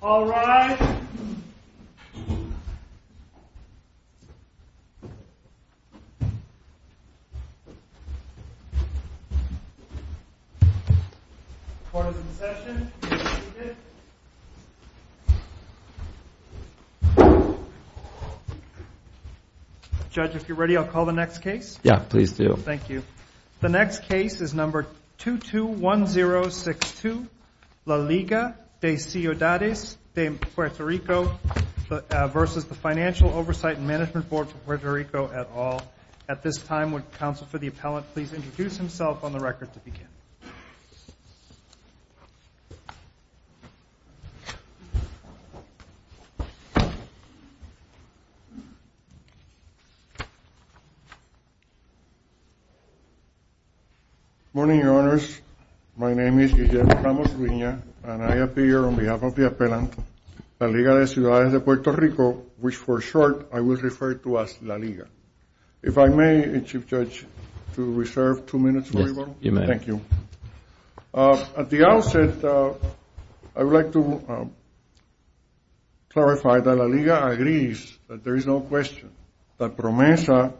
All rise. Court is in session. Judge, if you're ready, I'll call the next case. Yeah, please do. Thank you. The next case is number 221062, La Liga de Ciudades de Puerto Rico v. The Financial Oversight and Management Board for Puerto Rico, et al. At this time, would counsel for the appellant please introduce himself on the record to begin. Good morning, Your Honors. My name is Guillermo Ramos Ruina, and I appear on behalf of the appellant, La Liga de Ciudades de Puerto Rico, which for short, I will refer to as La Liga. If I may, Chief Judge, to reserve two minutes. Yes, you may. Thank you. At the outset, I would like to clarify that La Liga agrees that there is no question that PROMESA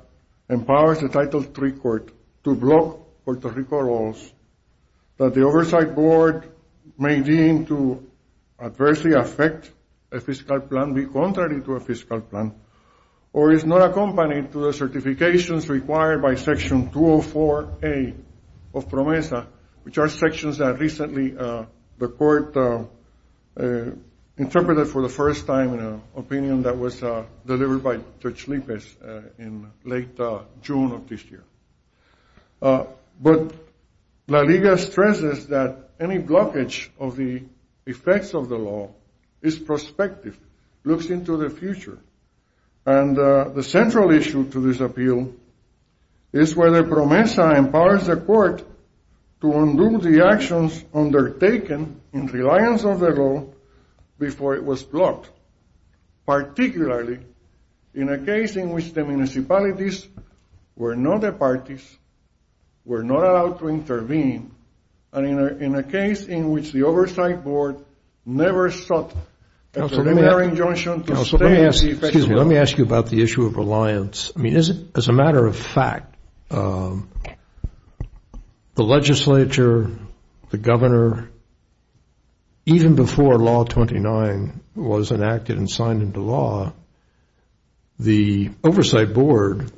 empowers the Title III Court to block Puerto Rico laws, that the Oversight Board may deem to adversely affect a fiscal plan, be contrary to a fiscal plan, or is not accompanied to the certifications required by Section 204A of PROMESA, which are sections that recently the Court interpreted for the first time in an opinion that was delivered by Judge Lippes in late June of this year. But La Liga stresses that any blockage of the effects of the law is prospective, looks into the future, and the central issue to this appeal is whether PROMESA empowers the Court to undo the actions undertaken in reliance on the law before it was blocked, particularly in a case in which the municipalities were not the parties, were not allowed to intervene, and in a case in which the Oversight Board never sought a preliminary injunction to stay in the effects of the law. Let me ask you about the issue of reliance. I mean, as a matter of fact, the legislature, the governor, even before Law 29 was enacted and signed into law, the Oversight Board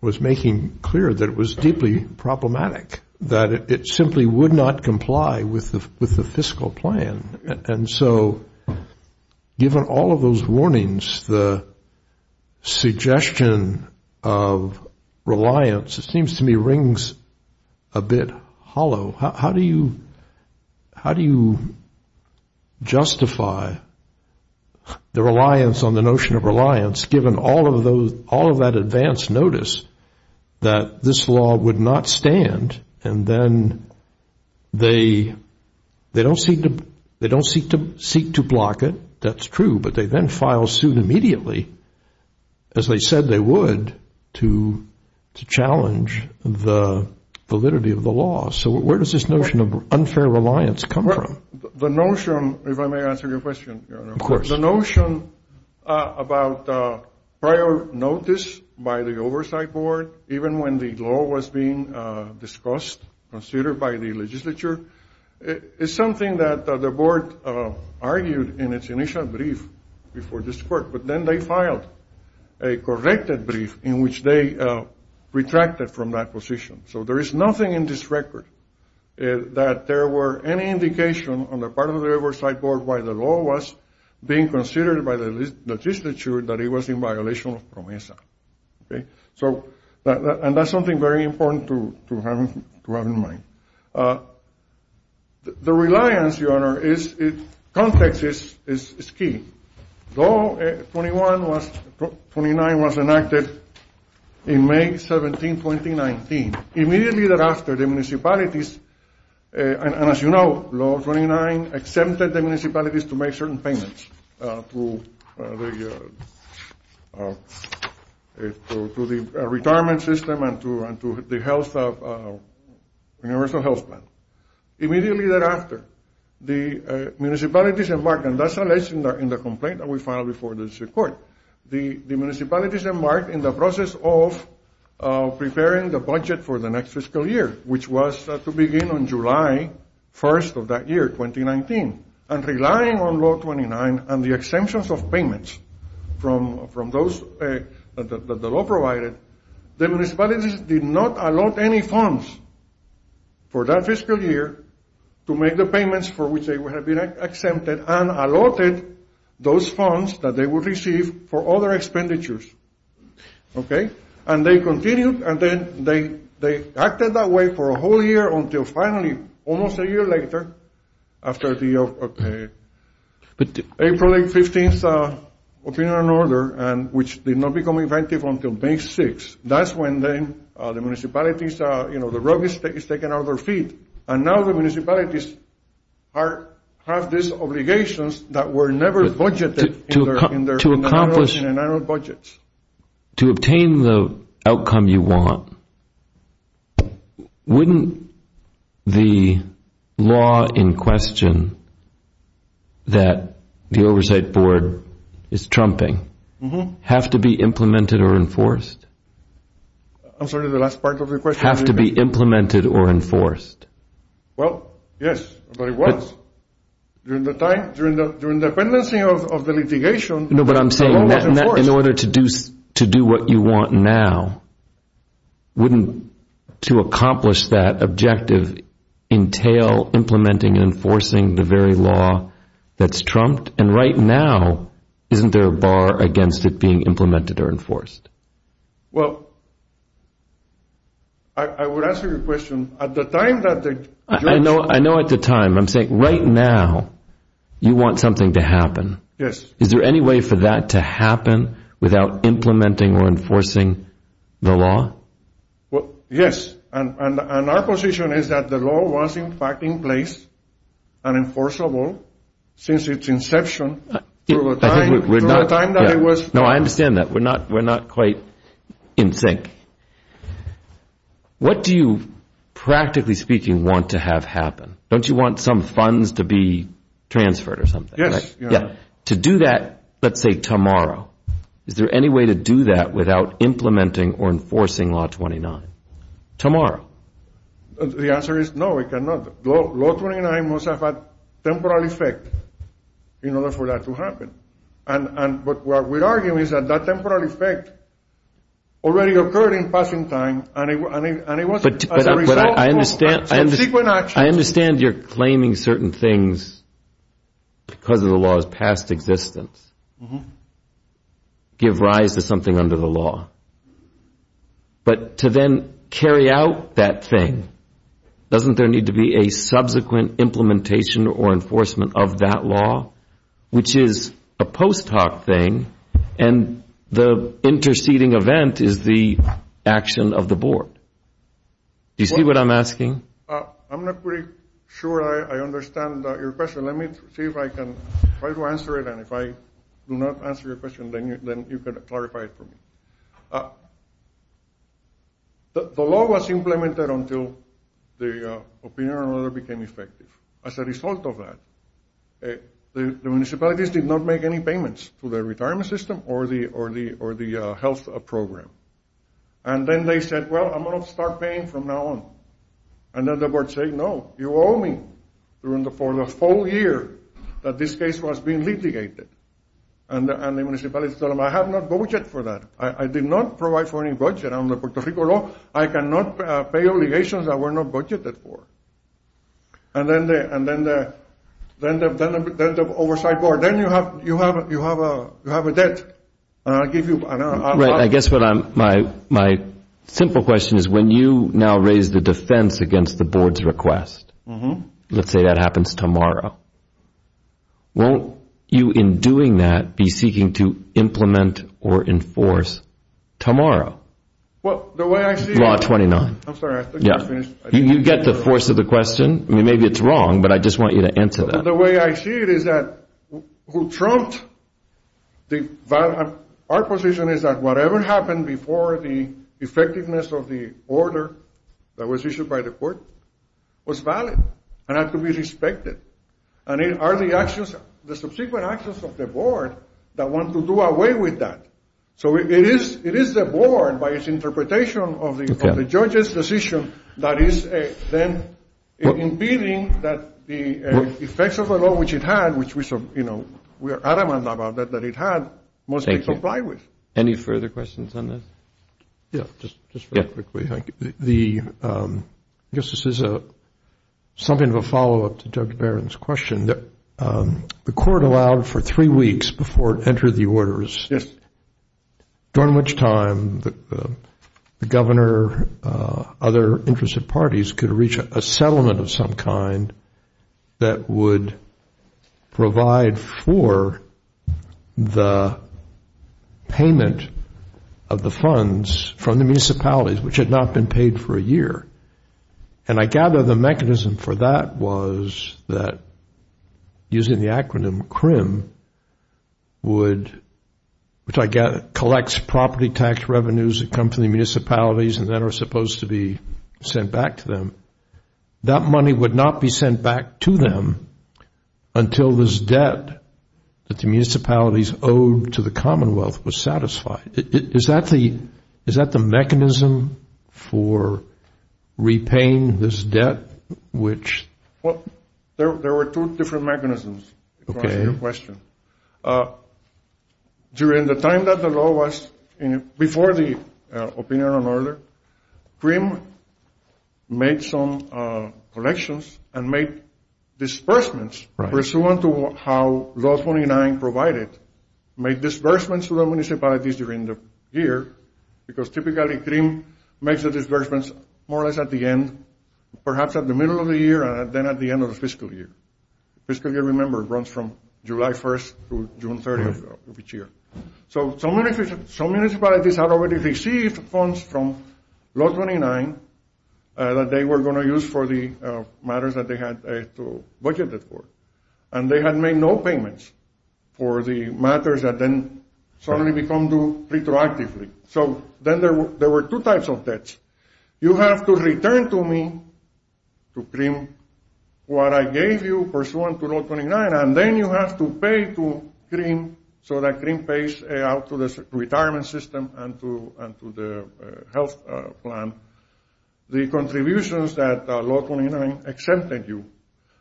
was making clear that it was deeply problematic, that it simply would not comply with the fiscal plan. And so given all of those warnings, the suggestion of reliance, it seems to me, rings a bit hollow. How do you justify the reliance on the notion of reliance, given all of that advance notice that this law would not stand, and then they don't seek to the validity of the law? So where does this notion of unfair reliance come from? The notion, if I may answer your question, the notion about prior notice by the Oversight Board, even when the law was being discussed, considered by the legislature, is something that the board argued in its initial brief before this Court, but then they filed a corrected brief in which they retracted from that position. So there is nothing in this record that there were any indication on the part of the Oversight Board why the law was being considered by the legislature that it was in violation of PROMESA. And that's something very important to have in mind. The reliance, Your Honor, context is key. Law 29 was enacted in May 17, 2019. Immediately thereafter, the municipalities, and as you know, Law 29 accepted the municipalities to make certain payments to the retirement system and to the universal health plan. Immediately thereafter, the municipalities embarked, and that's alleged in the complaint that we filed before this Court, the municipalities embarked in the process of preparing the budget for the next fiscal year, which was to begin on July 1st of that year, 2019, and relying on Law 29 and the exemptions of payments from those that the law provided, the municipalities did not allot any funds for that fiscal year to make the payments for which they would have been exempted and allotted those funds that they would receive for other expenditures. Okay? And they continued, and then they acted that way for a whole year until finally, almost a year later, after the April 8th, 15th opinion and order, and which did not become inventive until May 6th. That's when the municipalities, you know, the rug is taken out of their feet, and now the municipalities have these obligations that were never budgeted in their annual budgets. To obtain the outcome you want, wouldn't the law in question that the Oversight Board is trumping have to be implemented or enforced? I'm sorry, the last part of the question. Have to be implemented or enforced? Well, yes, but it was. During the time, during the pendency of the litigation... No, but I'm saying that in order to do what you want now, wouldn't to accomplish that objective entail implementing and enforcing the very law that's trumped? And right now, isn't there a bar against it being implemented or enforced? Well, I would answer your question. At the time that the... I know at the time, I'm saying right now you want something to happen. Yes. Is there any way for that to happen without implementing or enforcing the law? Well, yes, and our position is that the law was in fact in place and enforceable since its inception. No, I understand that. We're not quite in sync. What do you practically speaking want to have happen? Don't you want some funds to be transferred or something? Yes. To do that, let's say tomorrow, is there any way to do that without implementing or enforcing Law 29 tomorrow? The answer is no, we cannot. Law 29 must have a temporal effect. In order for that to happen. But what we're arguing is that that temporal effect already occurred in passing time and it wasn't... But I understand you're claiming certain things because of the law's past existence. Give rise to something under the law. But to then carry out that thing, doesn't there need to be a subsequent implementation or enforcement of that law, which is a post hoc thing and the interceding event is the action of the board? Do you see what I'm asking? I'm not pretty sure I understand your question. Let me see if I can try to answer it. And if I do not answer your question, then you can clarify it for me. The law was implemented until the opinion of another became effective. As a result of that, the municipalities did not make any payments to the retirement system or the health program. And then they said, well, I'm going to start paying from now on. And then the board said, no, you owe me for the full year that this case was being litigated. And the municipality said, I have no budget for that. I did not provide for any budget on the Puerto Rico law. I cannot pay obligations that were not budgeted for. And then the oversight board, then you have a debt. Right. I guess my simple question is when you now raise the defense against the board's request, let's say that happens tomorrow. Won't you in doing that be seeking to implement or enforce tomorrow? Well, the way I see it. Law 29. I'm sorry. Yeah. You get the force of the question. I mean, maybe it's wrong, but I just want you to answer that. The way I see it is that who trumped our position is that whatever happened before the effectiveness of the order that was issued by the court was valid and had to be respected. And it are the actions, the subsequent actions of the board that want to do away with that. So it is the board, by its interpretation of the judge's decision, that is then impeding that the effects of the law, which it had, which we are adamant about that it had, must be complied with. Any further questions on this? Yeah. Just quickly. I guess this is a something of a follow up to Dr. Barron's question. The court allowed for three weeks before it entered the orders, during which time the governor, other interested parties could reach a settlement of the payment of the funds from the municipalities, which had not been paid for a year. And I gather the mechanism for that was that using the acronym CRIM, which collects property tax revenues that come from the municipalities and that are supposed to be sent back to them. That money would not be sent back to them until this debt that the municipalities owed to the Commonwealth was satisfied. Is that the mechanism for repaying this debt? There were two different mechanisms. During the time that the law was, before the order, CRIM made some collections and made disbursements pursuant to how Law 29 provided, made disbursements to the municipalities during the year, because typically CRIM makes the disbursements more or less at the end, perhaps at the middle of the year, and then at the end of the fiscal year. Fiscal year, remember, runs from July 1st to June 30th of each year. So some municipalities had already received funds from Law 29 that they were going to use for the matters that they had to budget for, and they had made no payments for the matters that then suddenly become due retroactively. So then there were two types of debts. You have to return to me, to CRIM, what I gave you pursuant to Law 29, and then you have to pay to CRIM so that CRIM pays out to the retirement system and to the health plan the contributions that Law 29 exempted you.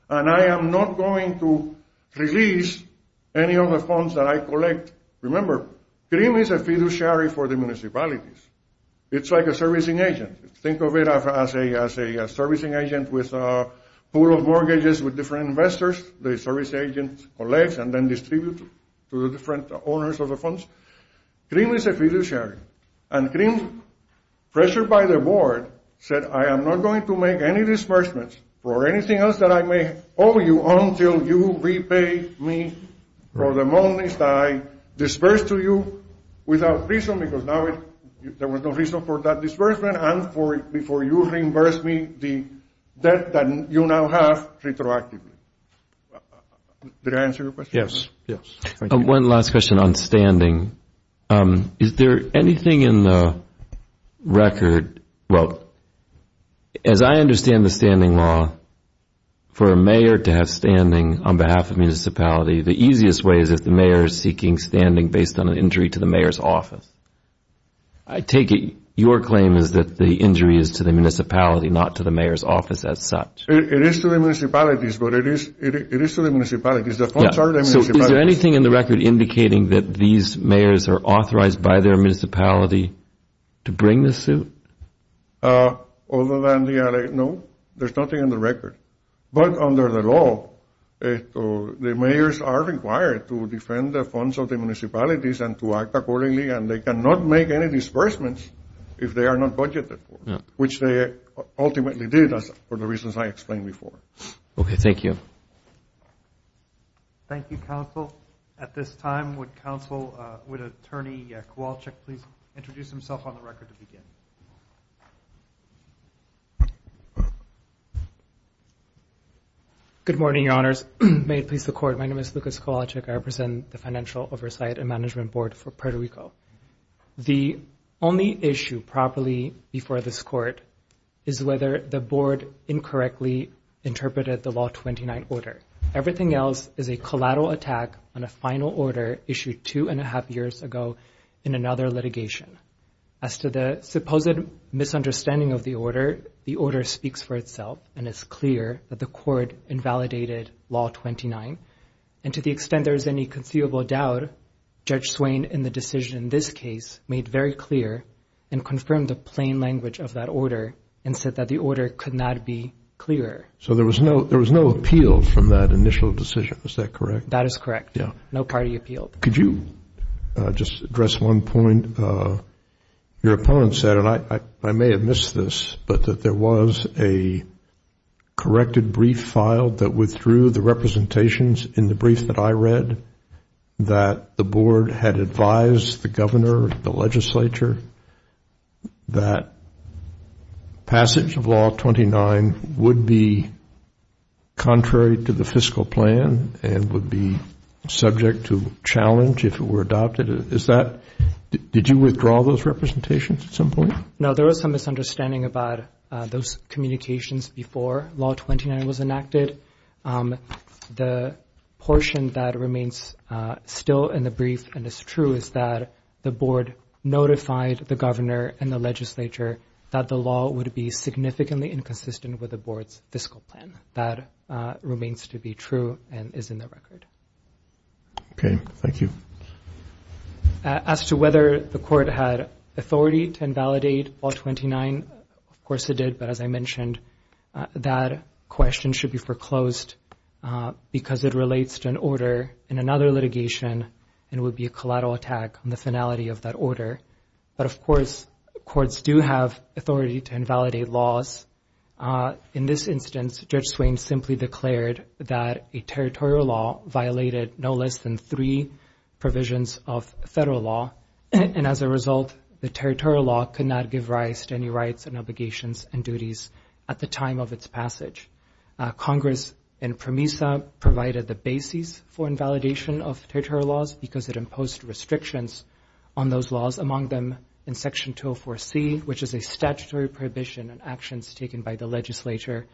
And I am not going to release any of the funds that I collect. Remember, CRIM is a fiduciary for the municipalities. It's like a servicing agent. Think of it as a servicing agent with a pool of mortgages with different investors. The service agent collects and then distributes to the different owners of the funds. CRIM is a fiduciary, and CRIM, pressured by the board, said, I am not going to make any disbursements for anything else that I may owe you until you repay me for the monies that I disbursed to you without reason, because now there was no reason for that disbursement, and before you reimburse me the debt that you now have retroactively. Did I answer your question? Yes. Yes. One last question on standing. Is there anything in the record, well, as I understand the standing law, for a mayor to have standing on behalf of municipality, the easiest way is if the mayor is seeking standing based on an injury to the mayor's office. I take it your claim is that the injury is to the municipality, not to the mayor's office as such. It is to the municipalities, but it is to the municipalities. The funds are to the municipalities. Is there anything in the record indicating that these mayors are authorized by their municipality to bring this suit? Other than the LA, no, there's nothing in the record, but under the law, the mayors are required to defend the funds of the municipalities and to act accordingly, and they cannot make any disbursements if they are not budgeted for, which they ultimately did for the reasons I explained before. Okay. Thank you. Thank you, counsel. At this time, would counsel, would attorney Kowalczyk please introduce himself on the record to begin? Good morning, your honors. May it please the court. My name is Lucas Kowalczyk. I represent the Financial Oversight and Management Board for Puerto Rico. The only issue properly before this court is whether the board incorrectly interpreted the Law 29 order. Everything else is a collateral attack on a final order issued two and a half years ago in another litigation. As to the supposed misunderstanding of the order, the order speaks for itself, and it's clear that the court invalidated Law 29, and to the extent there is any conceivable doubt, Judge Swain, in the decision in this case, made very clear and confirmed the plain language of that order and said that the order could not be clearer. So there was no appeal from that initial decision. Is that correct? That is correct. No party appealed. Could you just address one point? Your opponent said, and I may have missed this, but that there was a corrected brief filed that withdrew the representations in the brief that I the board had advised the governor, the legislature, that passage of Law 29 would be contrary to the fiscal plan and would be subject to challenge if it were adopted. Did you withdraw those representations at some point? No, there was some misunderstanding about those communications before Law 29 was enacted. But the portion that remains still in the brief and is true is that the board notified the governor and the legislature that the law would be significantly inconsistent with the board's fiscal plan. That remains to be true and is in the record. Okay. Thank you. As to whether the court had authority to invalidate Law 29, of course it did. But as I mentioned, that question should be foreclosed because it relates to an order in another litigation and would be a collateral attack on the finality of that order. But of course, courts do have authority to invalidate laws. In this instance, Judge Swain simply declared that a territorial law violated no less than three provisions of federal law. And as a result, the territorial law could not give rise to rights and obligations and duties at the time of its passage. Congress in PROMESA provided the basis for invalidation of territorial laws because it imposed restrictions on those laws, among them in Section 204C, which is a statutory prohibition on actions taken by the legislature.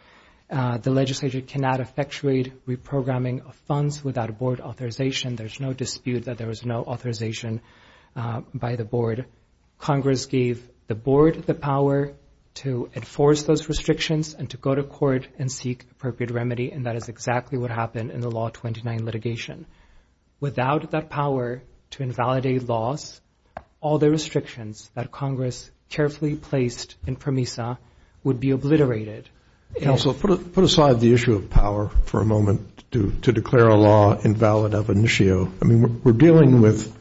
The legislature cannot effectuate reprogramming of funds without a board authorization. There's no dispute that there was no authorization by the board. Congress gave the board the power to enforce those restrictions and to go to court and seek appropriate remedy. And that is exactly what happened in the Law 29 litigation. Without that power to invalidate laws, all the restrictions that Congress carefully placed in PROMESA would be obliterated. Counsel, put aside the issue of power for a moment to declare a law invalid of initio. I mean, we're dealing with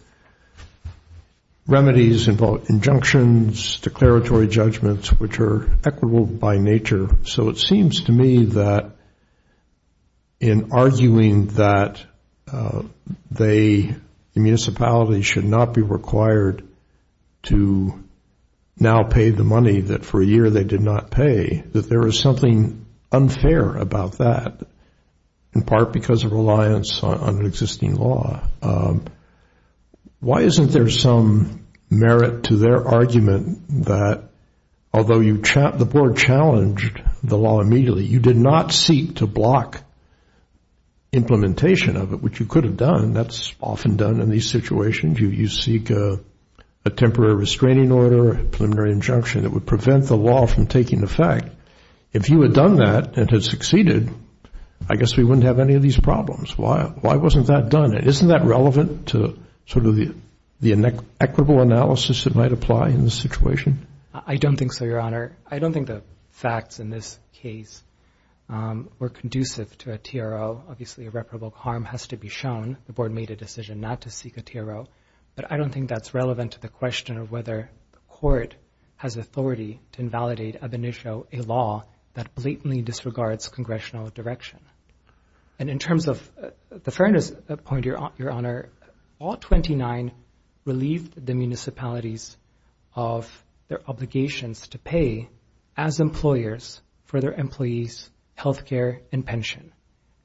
remedies in both injunctions, declaratory judgments, which are equitable by nature. So it seems to me that in arguing that the municipality should not be required to now pay the money that for a year they did not pay, that there is something unfair about that, in part because of reliance on an existing law. Why isn't there some merit to their argument that although the board challenged the law immediately, you did not seek to block implementation of it, which you could have done. That's often done in these situations. You seek a temporary restraining order, a preliminary injunction that would prevent the law from taking effect. If you had done that and had succeeded, I guess we wouldn't have any of these problems. Why wasn't that done? Isn't that relevant to sort of the equitable analysis that might apply in this situation? I don't think so, Your Honor. I don't think the facts in this case were conducive to a TRO. Obviously, irreparable harm has to be shown. The board made a decision not to seek a TRO. But I don't think that's relevant to the question of whether the court has authority to invalidate ab initio, a law that blatantly disregards congressional direction. And in terms of the fairness point, Your Honor, all 29 relieved the municipalities of their obligations to pay as employers for their employees' health care and pension,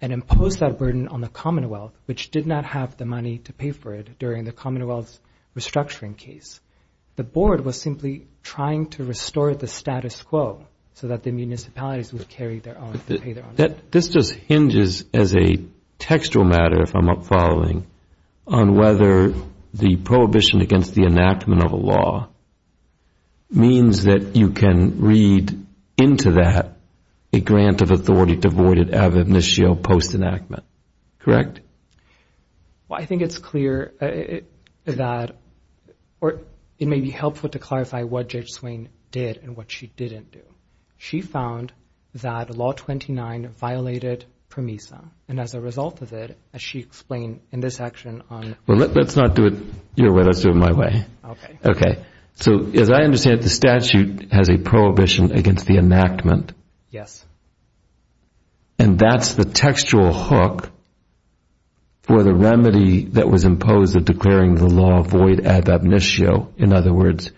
and imposed that burden on the commonwealth's restructuring case. The board was simply trying to restore the status quo so that the municipalities would carry their own, pay their own. This just hinges as a textual matter, if I'm not following, on whether the prohibition against the enactment of a law means that you can read into that a grant of authority ab initio post-enactment. Correct? Well, I think it's clear that it may be helpful to clarify what Judge Swain did and what she didn't do. She found that Law 29 violated PROMISA. And as a result of it, as she explained in this section on... Well, let's not do it your way. Let's do it my way. Okay. Okay. So as I understand it, the statute has a prohibition against the enactment. Yes. And that's the textual hook for the remedy that was imposed of declaring the law void ab initio. In other words,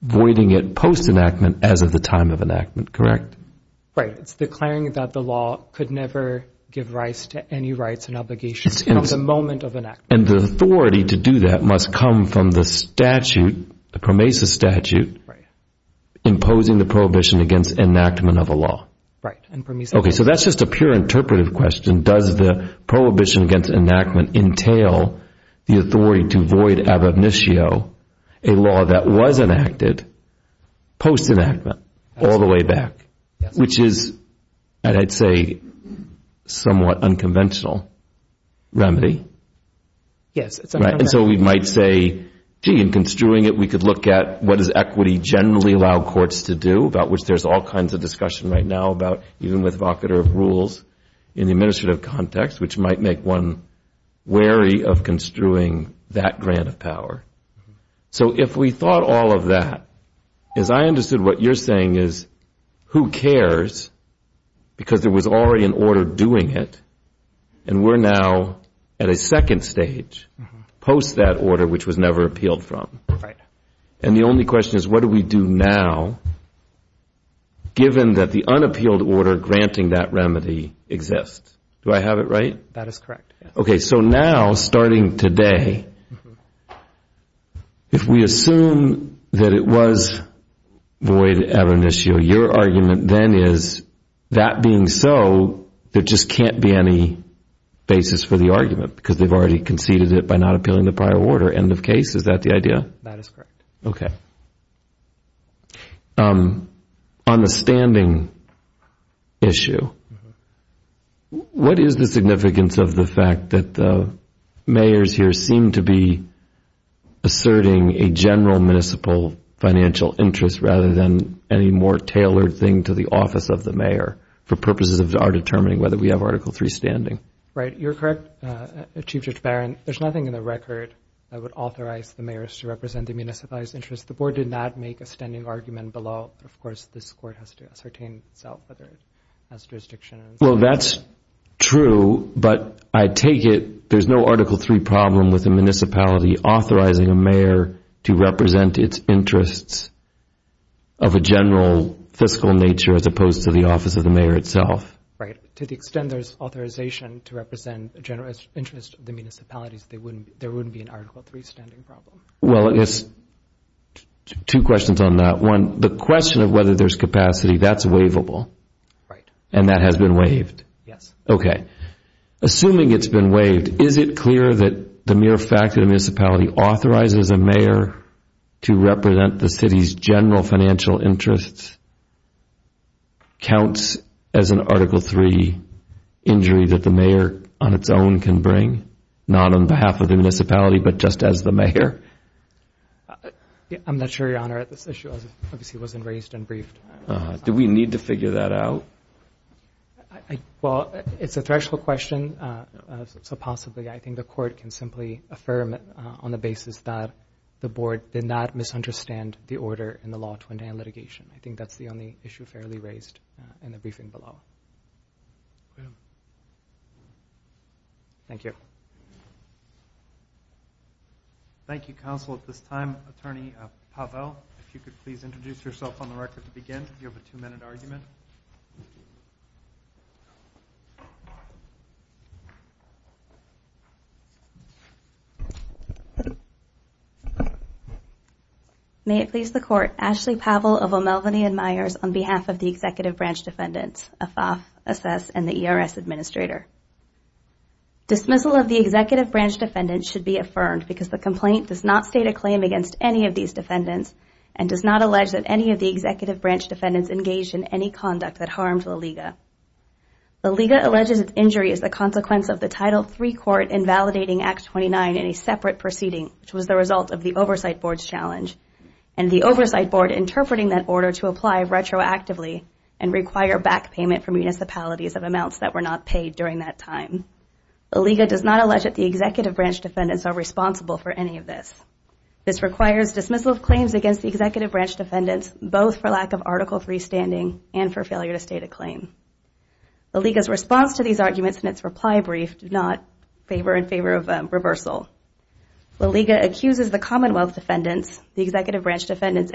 voiding it post-enactment as of the time of enactment. Correct? Right. It's declaring that the law could never give rise to any rights and obligations from the moment of enactment. And the authority to do that must come from the statute, the PROMISA statute, imposing the prohibition against enactment of a law. Right. And PROMISA... Okay. So that's just a pure interpretive question. Does the prohibition against enactment entail the authority to void ab initio a law that was enacted post-enactment all the way back? Which is, I'd say, somewhat unconventional remedy. Yes. Right. And so we might say, gee, in construing it, we could look at what does equity generally allow courts to do, about which there's all kinds of discussion right now about even with vocator of rules in the administrative context, which might make one wary of construing that grant of power. So if we thought all of that, as I understood what you're saying is, who cares, because there was already an order doing it, and we're now at a second stage, post that order, which was never appealed from. Right. And the only question is, what do we do now, given that the unappealed order granting that remedy exists? Do I have it right? That is correct. Okay. So now, starting today, if we assume that it was void ab initio, your argument then is, that being so, there just can't be any basis for the argument, because they've already conceded it by not appealing the prior order. End of case. Is that the idea? That is correct. Okay. On the standing issue, what is the significance of the fact that the mayors here seem to be asserting a general municipal financial interest, rather than any more tailored thing to the office of the mayor, for purposes of determining whether we have Article III standing? Right. You're correct, Chief Judge Barron. There's nothing in the record that would represent the municipal interest. The board did not make a standing argument below, but of course, this court has to ascertain itself, whether it has jurisdiction. Well, that's true, but I take it there's no Article III problem with the municipality authorizing a mayor to represent its interests of a general fiscal nature, as opposed to the office of the mayor itself. Right. To the extent there's authorization to represent the general interest of the municipalities, there wouldn't be an Article III standing problem. Well, I guess two questions on that. One, the question of whether there's capacity, that's waivable. Right. And that has been waived? Yes. Okay. Assuming it's been waived, is it clear that the mere fact that a municipality authorizes a mayor to represent the city's general financial interests counts as an Article III injury that the mayor on its own can bring, not on behalf of the municipality, but just as the mayor? I'm not sure, Your Honor, that this issue obviously wasn't raised and briefed. Do we need to figure that out? Well, it's a threshold question, so possibly, I think the court can simply affirm on the basis that the board did not misunderstand the order in the law to endanger litigation. I think that's the only issue fairly raised in the briefing below. Thank you. Thank you, Counsel. At this time, Attorney Pavel, if you could please introduce yourself on the record to begin. You have a two-minute argument. May it please the Court, Ashley Pavel of O'Melveny and Myers on behalf of the Executive Branch Defendants, a FAF, a SES, and the ERS Administrator. Dismissal of the Executive Branch Defendants should be affirmed because the complaint does not state a claim against any of these defendants and does not allege that any of the Executive Branch Defendants engaged in any conduct that harmed La Liga. La Liga alleges its injury is the consequence of the Title III Court invalidating Act 29 in a separate proceeding, which was the result of the Oversight Board's challenge, and the Oversight Board interpreting that order to apply retroactively and require back payment from municipalities of amounts that were not paid during that time. La Liga does not allege that the Executive Branch Defendants are responsible for any of this. This requires dismissal of claims against the Executive Branch Defendants, both for lack of Article III standing and for failure to state a claim. La Liga's response to these arguments in its reply brief did not favor in favor of reversal. La Liga accuses the Commonwealth Defendants, the Executive Defendants,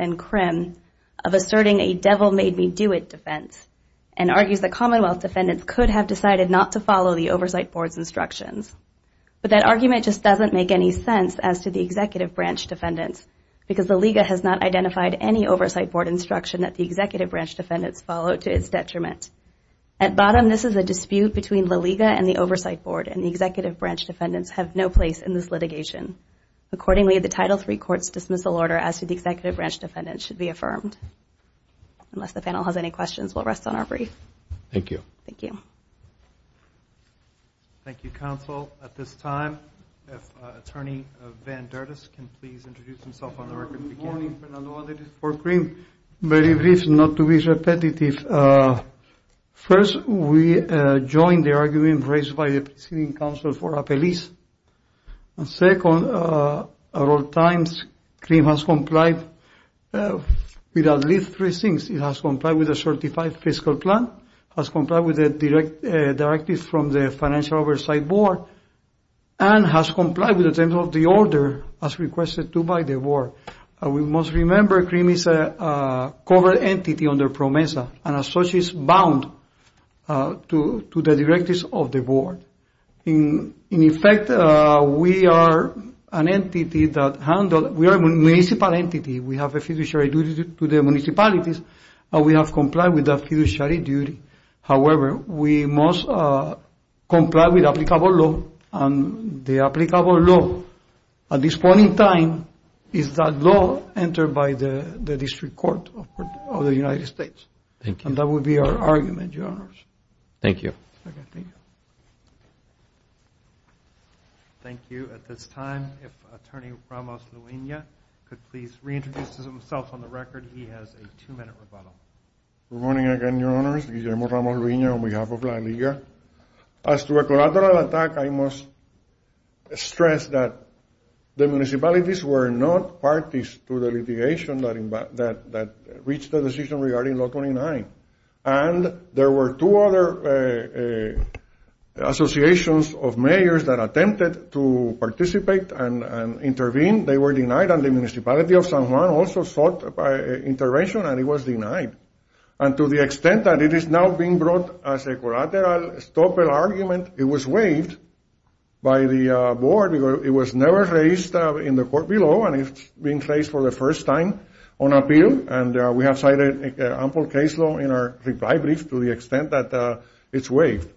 could have decided not to follow the Oversight Board's instructions, but that argument just doesn't make any sense as to the Executive Branch Defendants because La Liga has not identified any Oversight Board instruction that the Executive Branch Defendants followed to its detriment. At bottom, this is a dispute between La Liga and the Oversight Board and the Executive Branch Defendants have no place in this litigation. Accordingly, the Title III Court's dismissal order as to the Executive Branch Defendants should be affirmed. Unless the Executive Branch Defendants have no place in this litigation, La Liga has no place in it. Thank you, counsel. At this time, if Attorney Van Dertis can please introduce himself on the record. Good morning, Fernando Andrade for CREAM. Very brief, not to be repetitive. First, we join the argument raised by the preceding counsel for Apeliz. And second, at all times, CREAM has complied with at least three things. It has complied with a fiscal plan, has complied with the directives from the Financial Oversight Board, and has complied with the terms of the order as requested to by the Board. We must remember CREAM is a covered entity under PROMESA and as such is bound to the directives of the Board. In effect, we are an entity that handles, we are a municipal entity. We have a fiduciary duty to the duty. However, we must comply with applicable law. And the applicable law at this point in time is that law entered by the District Court of the United States. And that would be our argument, Your Honors. Thank you. Thank you. Thank you. At this time, if Attorney Ramos-Luena could please reintroduce himself on the record. He has a two-minute rebuttal. Good morning again, Your Honors. Guillermo Ramos-Luena on behalf of La Liga. As to a collateral attack, I must stress that the municipalities were not parties to the litigation that reached the decision regarding Law 29. And there were two other associations of mayors that attempted to participate and intervene. They were denied, and the municipality of San Juan also intervened, and it was denied. And to the extent that it is now being brought as a collateral stopper argument, it was waived by the Board. It was never raised in the court below, and it's being raised for the first time on appeal. And we have cited ample case law in our reply brief to the extent that it's waived.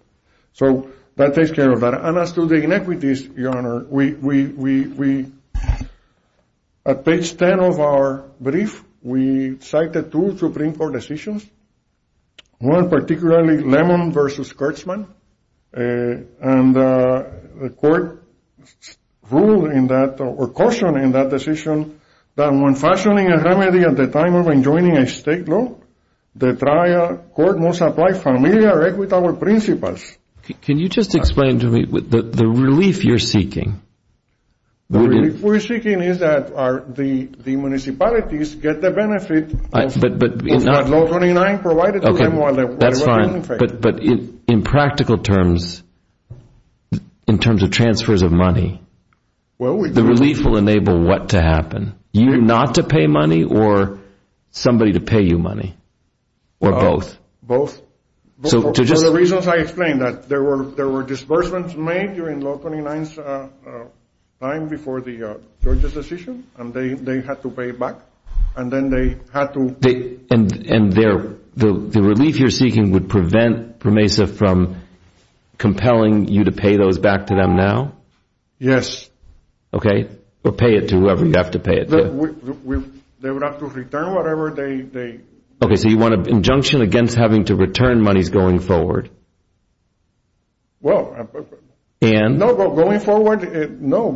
So that takes care of that. And as to the inequities, Your Honor, we, at page 10 of our brief, we cited two Supreme Court decisions, one particularly Lemon v. Kurtzman. And the court ruled in that, or cautioned in that decision, that when fashioning a remedy at the time of enjoining a state law, the trial court must apply familiar or equitable principles. Can you just explain to me the relief you're seeking? The relief we're seeking is that the municipalities get the benefit of Law 29 provided to them while they're in effect. That's fine. But in practical terms, in terms of transfers of money, the relief will enable what to happen? You not to pay money, or somebody to pay you money, or both? Both. For the reasons I explained, that there were disbursements made during Law 29's time before the judge's decision, and they had to pay it back. And then they had to... And the relief you're seeking would prevent PERMESA from compelling you to pay those back to them now? Yes. Okay. Or pay it to whoever you have to pay it to. They would have to return whatever they... So you want an injunction against having to return monies going forward? Well... And? No, going forward, no.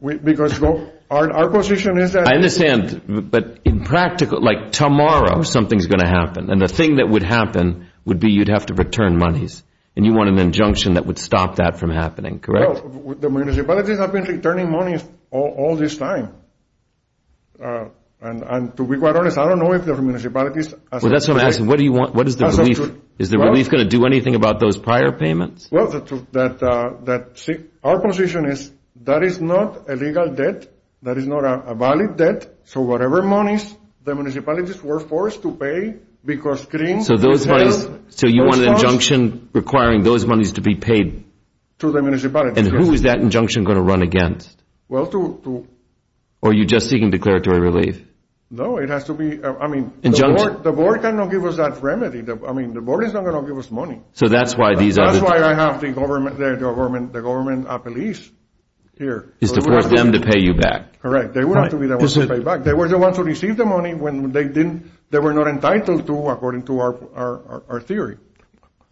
Because our position is that... I understand. But in practical, like tomorrow, something's going to happen. And the thing that would happen would be you'd have to return monies. And you want an injunction that would stop that from happening, correct? Well, the municipalities have been returning monies all this time. And to be quite honest, I don't know if the municipalities... That's what I'm asking. What is the relief? Is the relief going to do anything about those prior payments? Well, our position is that is not a legal debt. That is not a valid debt. So whatever monies the municipalities were forced to pay, because... So you want an injunction requiring those monies to be paid? To the municipalities, yes. Who is that injunction going to run against? Well, to... Or are you just seeking declaratory relief? No, it has to be... I mean... The board cannot give us that remedy. I mean, the board is not going to give us money. So that's why these... That's why I have the government... The government police here. Is to force them to pay you back. Correct. They would have to be the ones to pay back. They were the ones to receive the money when they didn't... They were not entitled to, according to our theory.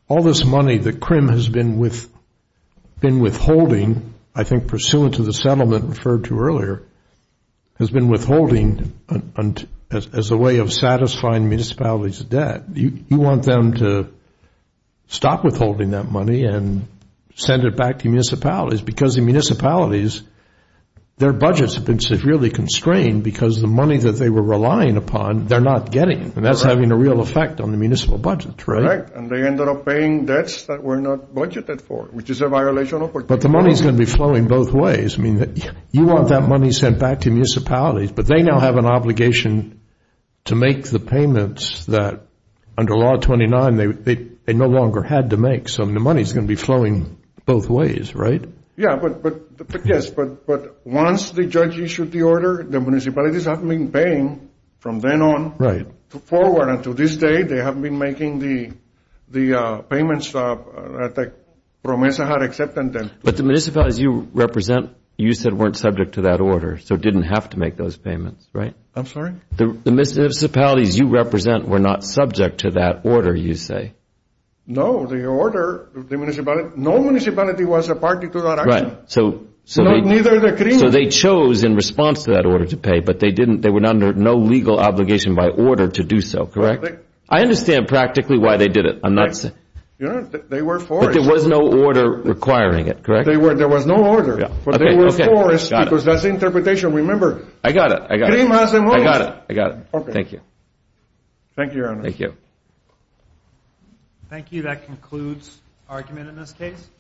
All this money that CRIM has been withholding, I think pursuant to the settlement referred to earlier, has been withholding as a way of satisfying municipalities' debt. You want them to stop withholding that money and send it back to municipalities. Because the municipalities, their budgets have been severely constrained because the money that they were relying upon, they're not getting. And that's having a real effect on the municipal budget, right? And they ended up paying debts that were not budgeted for, which is a violation of... But the money is going to be flowing both ways. I mean, you want that money sent back to municipalities, but they now have an obligation to make the payments that, under Law 29, they no longer had to make. So the money is going to be flowing both ways, right? Yeah, but... Yes, but once the judge issued the order, the municipalities have been paying from then on forward. And to this day, they have been making the payments that PROMESA had accepted then. But the municipalities you represent, you said, weren't subject to that order, so didn't have to make those payments, right? I'm sorry? The municipalities you represent were not subject to that order, you say? No, the order, the municipality... No municipality was a party to that action. Right, so... So neither the CRIM... So they chose in response to that order to pay, but they were under no legal obligation by order to do so, correct? I understand practically why they did it. I'm not saying... They were forced. But there was no order requiring it, correct? There was no order, but they were forced because that's the interpretation, remember. I got it, I got it. CRIM has them all. I got it, I got it. Okay. Thank you. Thank you, Your Honor. Thank you. Thank you. That concludes argument in this case.